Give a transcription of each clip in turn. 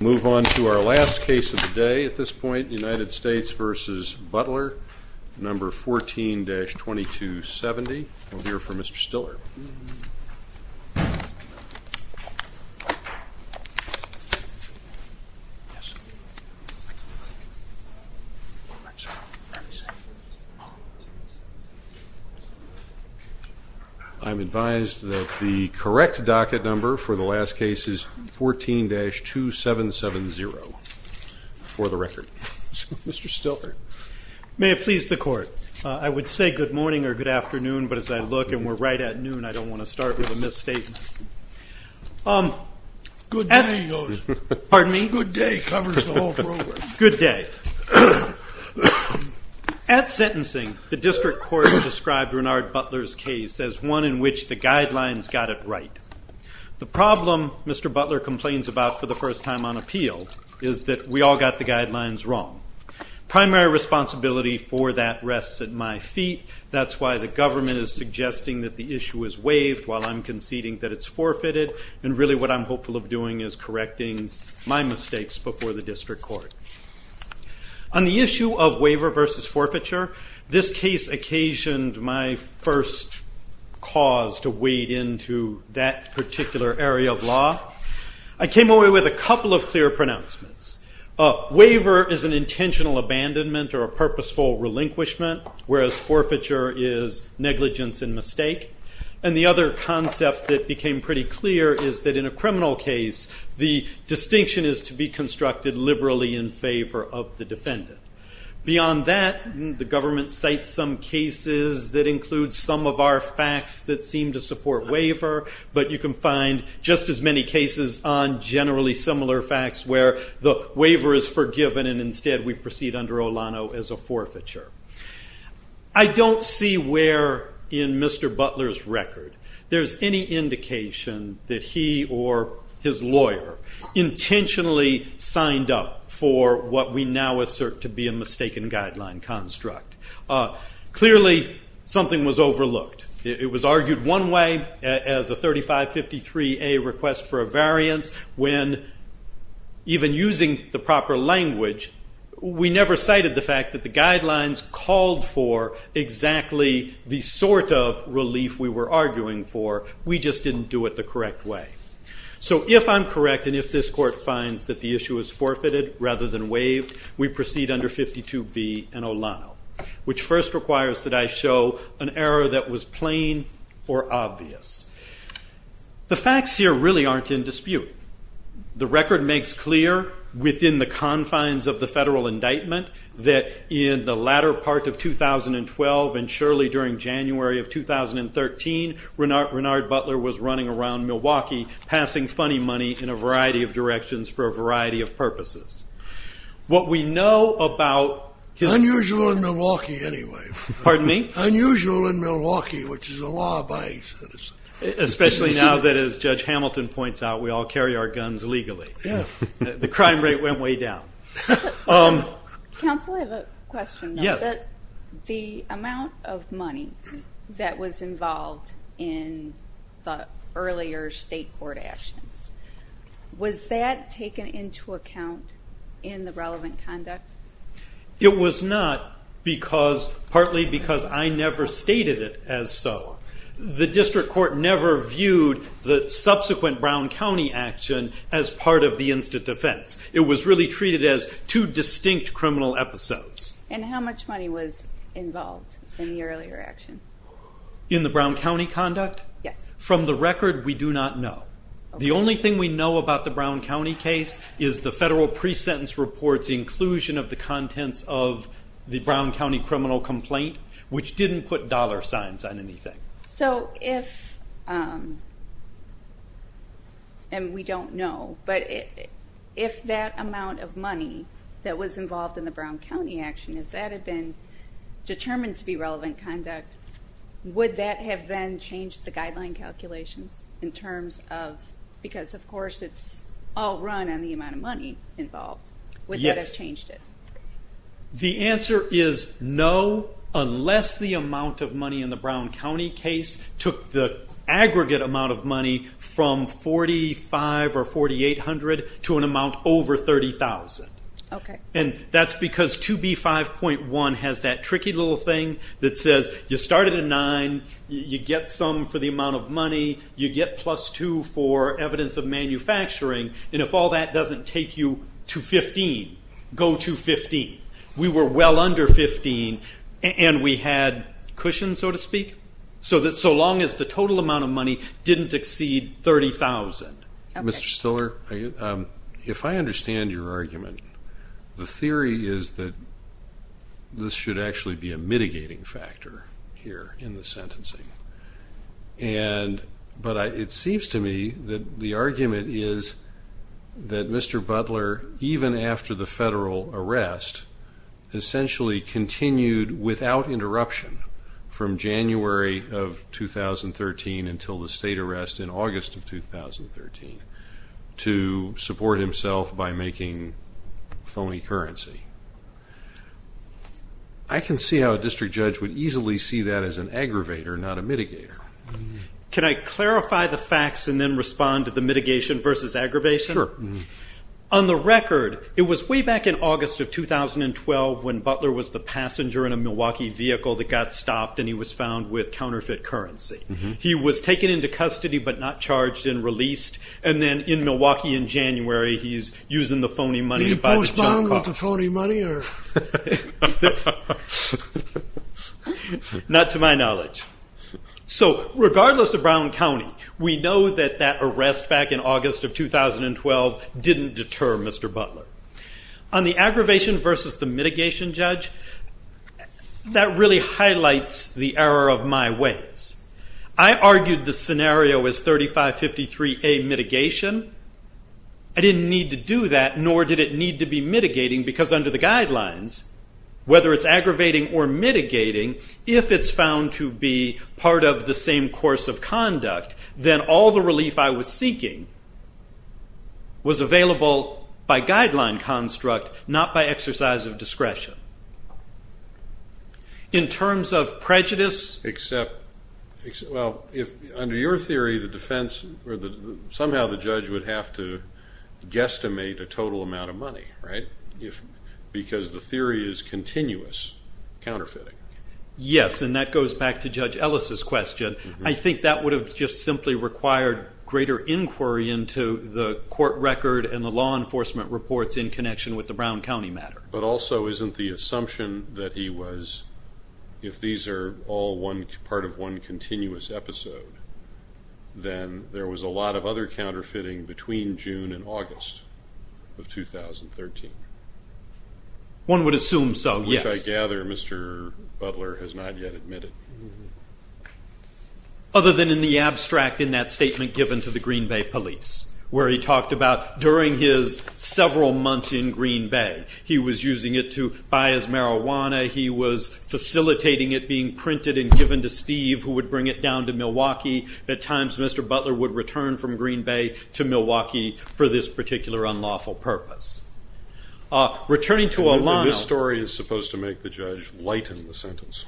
Move on to our last case of the day at this point, United States v. Butler, number 14-2270, and we'll hear from Mr. Stiller. I'm advised that the correct docket number for the last case is 14-2770 for the record. Mr. Stiller. May it please the Court. I would say good morning or good afternoon, but as I look and we're right at noon, I don't want to start with a misstatement. Good day, he goes. Pardon me? Good day covers the whole program. Good day. At sentencing, the district court described Renard Butler's case as one in which the guidelines got it right. The problem Mr. Butler complains about for the first time on appeal is that we all got the guidelines wrong. Primary responsibility for that rests at my feet. That's why the government is suggesting that the issue is waived while I'm conceding that it's forfeited, and really what I'm hopeful of doing is correcting my mistakes before the district court. On the issue of waiver versus forfeiture, this case occasioned my first cause to wade into that particular area of law. I came away with a couple of clear pronouncements. Waiver is an intentional abandonment or a purposeful relinquishment, whereas forfeiture is negligence and mistake. The other concept that became pretty clear is that in a criminal case, the distinction is to be constructed liberally in favor of the defendant. Beyond that, the government cites some cases that include some of our facts that seem to support waiver, but you can find just as many cases on generally similar facts where the waiver is forgiven and instead we proceed under Olano as a forfeiture. I don't see where in Mr. Butler's record there's any indication that he or his lawyer intentionally signed up for what we now assert to be a mistaken guideline construct. Clearly, something was overlooked. It was argued one way as a 3553A request for a variance when even using the proper language, we never cited the fact that the guidelines called for exactly the sort of relief we were arguing for. We just didn't do it the correct way. If I'm correct and if this court finds that the issue is forfeited rather than waived, we proceed under 52B and Olano, which first requires that I show an error that was plain or obvious. The facts here really aren't in dispute. The record makes clear within the confines of the federal indictment that in the latter part of 2012 and surely during January of 2013, Renard Butler was running around Milwaukee passing funny money in a variety of directions for a variety of purposes. What we know about his- Unusual in Milwaukee anyway. Pardon me? Unusual in Milwaukee, which is a law-abiding citizen. Especially now that, as Judge Hamilton points out, we all carry our guns legally. The crime rate went way down. Counsel, I have a question. Yes. The amount of money that was involved in the earlier state court actions, was that taken into account in the relevant conduct? It was not partly because I never stated it as so. The district court never viewed the subsequent Brown County action as part of the instant defense. It was really treated as two distinct criminal episodes. And how much money was involved in the earlier action? In the Brown County conduct? Yes. From the record, we do not know. The only thing we know about the Brown County case is the federal pre-sentence report's inclusion of the contents of the Brown County criminal complaint, which didn't put dollar signs on anything. So if, and we don't know, but if that amount of money that was involved in the Brown County action, if that had been determined to be relevant conduct, would that have then changed the guideline calculations in terms of, because of course it's all run on the amount of money involved, would that have changed it? The answer is no, unless the amount of money in the Brown County case took the aggregate amount of money from $4,500 or $4,800 to an amount over $30,000. And that's because 2B5.1 has that tricky little thing that says you start at a nine, you get some for the amount of money, you get plus two for evidence of manufacturing, and if all that doesn't take you to 15, go to 15. We were well under 15, and we had cushions, so to speak, so that so long as the total amount of money didn't exceed $30,000. Mr. Stiller, if I understand your argument, the theory is that this should actually be a mitigating factor here in the sentencing. But it seems to me that the argument is that Mr. Butler, even after the federal arrest, essentially continued without interruption from January of 2013 until the state arrest in August of 2013 to support himself by making phony currency. I can see how a district judge would easily see that as an aggravator, not a mitigator. Can I clarify the facts and then respond to the mitigation versus aggravation? Sure. On the record, it was way back in August of 2012 when Butler was the passenger in a Milwaukee vehicle that got stopped, and he was found with counterfeit currency. He was taken into custody but not charged and released, and then in Milwaukee in January, he's using the phony money to buy the job offer. Was he found with the phony money? Not to my knowledge. So regardless of Brown County, we know that that arrest back in August of 2012 didn't deter Mr. Butler. On the aggravation versus the mitigation judge, that really highlights the error of my ways. I argued the scenario as 3553A mitigation. I didn't need to do that, nor did it need to be mitigating because under the guidelines, whether it's aggravating or mitigating, if it's found to be part of the same course of conduct, then all the relief I was seeking was available by guideline construct, not by exercise of discretion. In terms of prejudice… Well, under your theory, somehow the judge would have to guesstimate a total amount of money, right? Because the theory is continuous counterfeiting. Yes, and that goes back to Judge Ellis' question. I think that would have just simply required greater inquiry into the court record and the law enforcement reports in connection with the Brown County matter. But also, isn't the assumption that he was, if these are all part of one continuous episode, then there was a lot of other counterfeiting between June and August of 2013? One would assume so, yes. Which I gather Mr. Butler has not yet admitted. Other than in the abstract in that statement given to the Green Bay Police, where he talked about during his several months in Green Bay, he was using it to buy his marijuana. He was facilitating it being printed and given to Steve, who would bring it down to Milwaukee. At times, Mr. Butler would return from Green Bay to Milwaukee for this particular unlawful purpose. Returning to Olano. This story is supposed to make the judge lighten the sentence.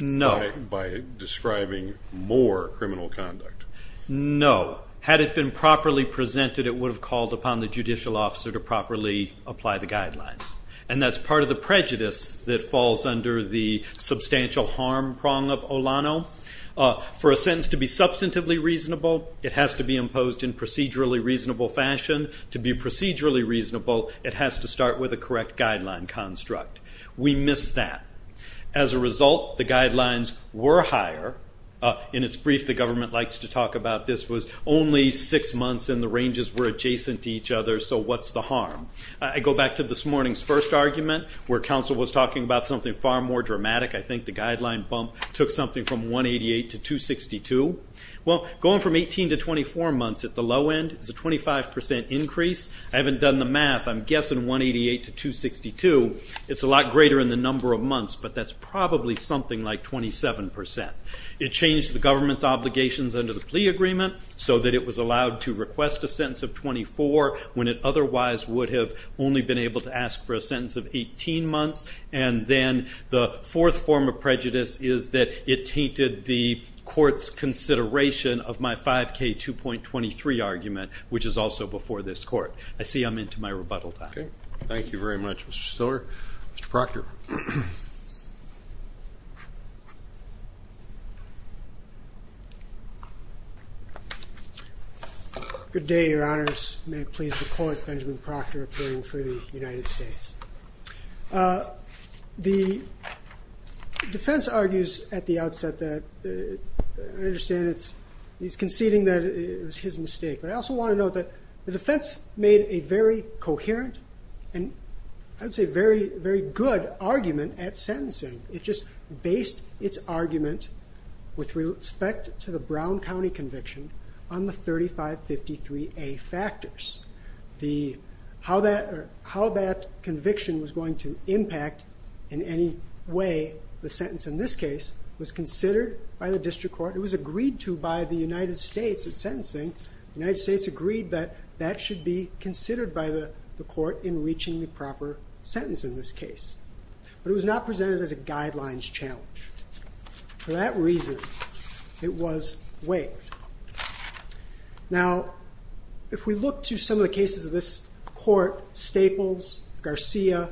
No. By describing more criminal conduct. No. Had it been properly presented, it would have called upon the judicial officer to properly apply the guidelines. And that's part of the prejudice that falls under the substantial harm prong of Olano. For a sentence to be substantively reasonable, it has to be imposed in procedurally reasonable fashion. To be procedurally reasonable, it has to start with a correct guideline construct. We missed that. As a result, the guidelines were higher. In its brief, the government likes to talk about this, was only six months and the ranges were adjacent to each other, so what's the harm? I go back to this morning's first argument, where counsel was talking about something far more dramatic. I think the guideline bump took something from 188 to 262. Going from 18 to 24 months at the low end is a 25% increase. I haven't done the math. I'm guessing 188 to 262 is a lot greater in the number of months, but that's probably something like 27%. It changed the government's obligations under the plea agreement so that it was allowed to request a sentence of 24 when it otherwise would have only been able to ask for a sentence of 18 months. And then the fourth form of prejudice is that it tainted the court's consideration of my 5K 2.23 argument, which is also before this court. I see I'm into my rebuttal time. Thank you very much, Mr. Stiller. Mr. Proctor. Good day, your honors. May it please the court, Benjamin Proctor, appealing for the United States. The defense argues at the outset that, I understand he's conceding that it was his mistake, but I also want to note that the defense made a very coherent and, I would say, very good argument at sentencing. It just based its argument with respect to the Brown County conviction on the 3553A factors. How that conviction was going to impact in any way the sentence in this case was considered by the district court. It was agreed to by the United States at sentencing. The United States agreed that that should be considered by the court in reaching the proper sentence in this case. But it was not presented as a guidelines challenge. For that reason, it was waived. Now, if we look to some of the cases of this court, Staples, Garcia,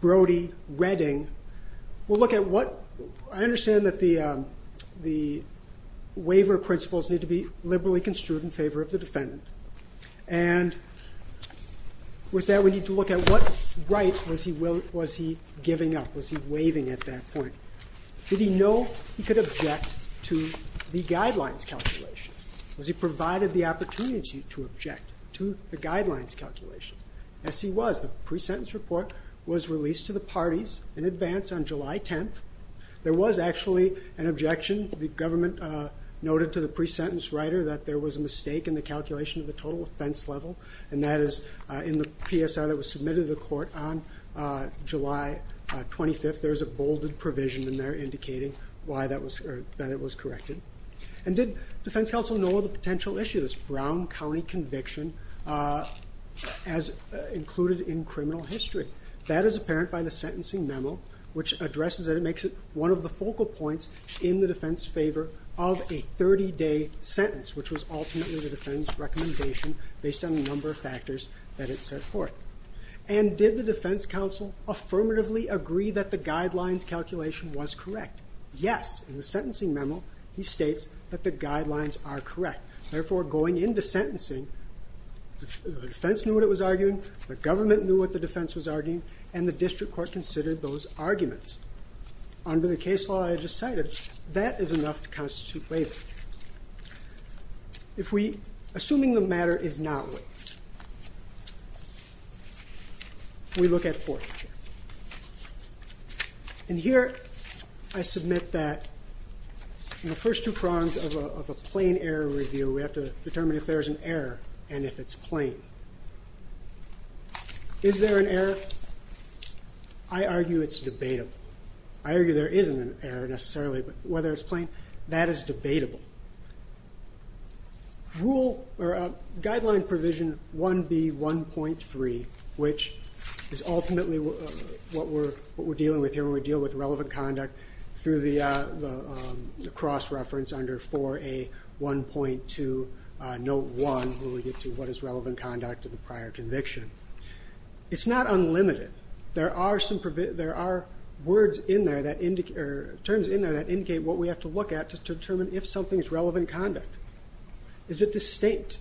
Brody, Redding, we'll look at what, I understand that the waiver principles need to be liberally construed in favor of the defendant. And with that, we need to look at what right was he giving up, was he waiving at that point. Did he know he could object to the guidelines calculation? Was he provided the opportunity to object to the guidelines calculation? Yes, he was. The pre-sentence report was released to the parties in advance on July 10th. There was actually an objection. The government noted to the pre-sentence writer that there was a mistake in the calculation of the total offense level, and that is in the PSR that was submitted to the court on July 25th. There's a bolded provision in there indicating that it was corrected. And did defense counsel know of the potential issue of this Brown County conviction as included in criminal history? That is apparent by the sentencing memo, which addresses it and makes it one of the focal points in the defense favor of a 30-day sentence, which was ultimately the defense recommendation based on the number of factors that it set forth. And did the defense counsel affirmatively agree that the guidelines calculation was correct? Yes. In the sentencing memo, he states that the guidelines are correct. Therefore, going into sentencing, the defense knew what it was arguing, the government knew what the defense was arguing, and the district court considered those arguments. Under the case law I just cited, that is enough to constitute waiving. Assuming the matter is not waived, we look at forfeiture. And here I submit that in the first two prongs of a plain error review, we have to determine if there is an error and if it's plain. Is there an error? I argue it's debatable. I argue there isn't an error necessarily, but whether it's plain, that is debatable. Guideline provision 1B.1.3, which is ultimately what we're dealing with here when we deal with relevant conduct, through the cross-reference under 4A.1.2, note 1, where we get to what is relevant conduct to the prior conviction. It's not unlimited. There are terms in there that indicate what we have to look at to determine if something is relevant conduct. Is it distinct?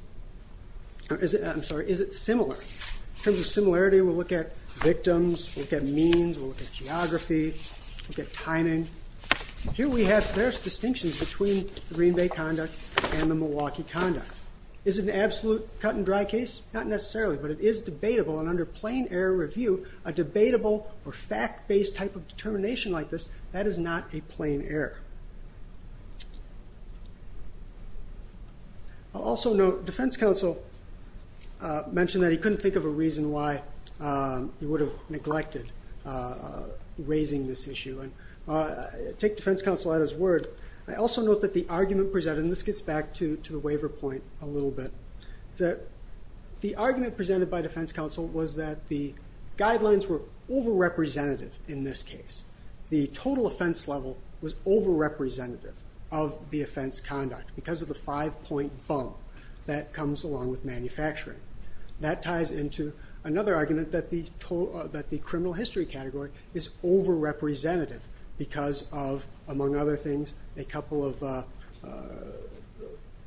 I'm sorry, is it similar? In terms of similarity, we'll look at victims, we'll look at means, we'll look at geography, we'll look at timing. Here we have various distinctions between Green Bay conduct and the Milwaukee conduct. Is it an absolute cut-and-dry case? Not necessarily, but it is debatable. Under plain error review, a debatable or fact-based type of determination like this, that is not a plain error. I'll also note defense counsel mentioned that he couldn't think of a reason why he would have neglected raising this issue. I take defense counsel at his word. I also note that the argument presented, and this gets back to the waiver point a little bit, the argument presented by defense counsel was that the guidelines were over-representative in this case. The total offense level was over-representative of the offense conduct because of the five-point bump that comes along with manufacturing. That ties into another argument that the criminal history category is over-representative because of, among other things, a couple of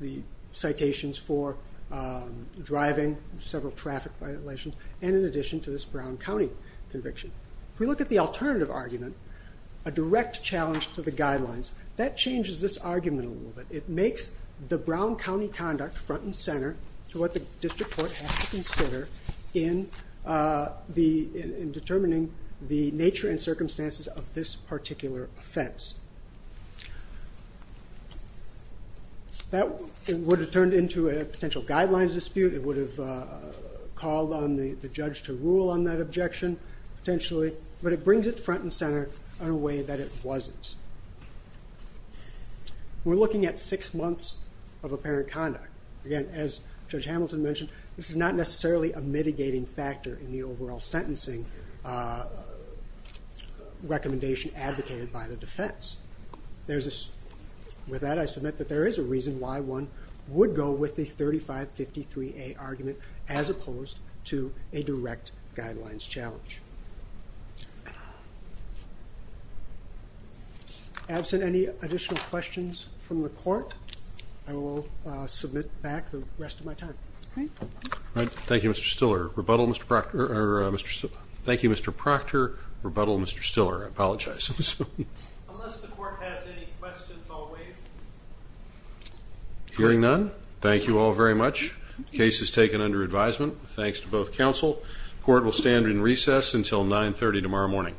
the citations for driving, several traffic violations, and in addition to this Brown County conviction. If we look at the alternative argument, a direct challenge to the guidelines, that changes this argument a little bit. It makes the Brown County conduct front and center to what the district court has to consider in determining the nature and circumstances of this particular offense. That would have turned into a potential guidelines dispute. It would have called on the judge to rule on that objection potentially, but it brings it front and center in a way that it wasn't. We're looking at six months of apparent conduct. Again, as Judge Hamilton mentioned, this is not necessarily a mitigating factor in the overall sentencing recommendation advocated by the defense. With that, I submit that there is a reason why one would go with the 3553A argument as opposed to a direct guidelines challenge. Absent any additional questions from the court, I will submit back the rest of my time. Thank you, Mr. Stiller. Thank you, Mr. Proctor. Rebuttal, Mr. Stiller. I apologize. Unless the court has any questions, I'll waive. Hearing none, thank you all very much. The case is taken under advisement. Thanks to both counsel. Court will stand in recess until 930 tomorrow morning.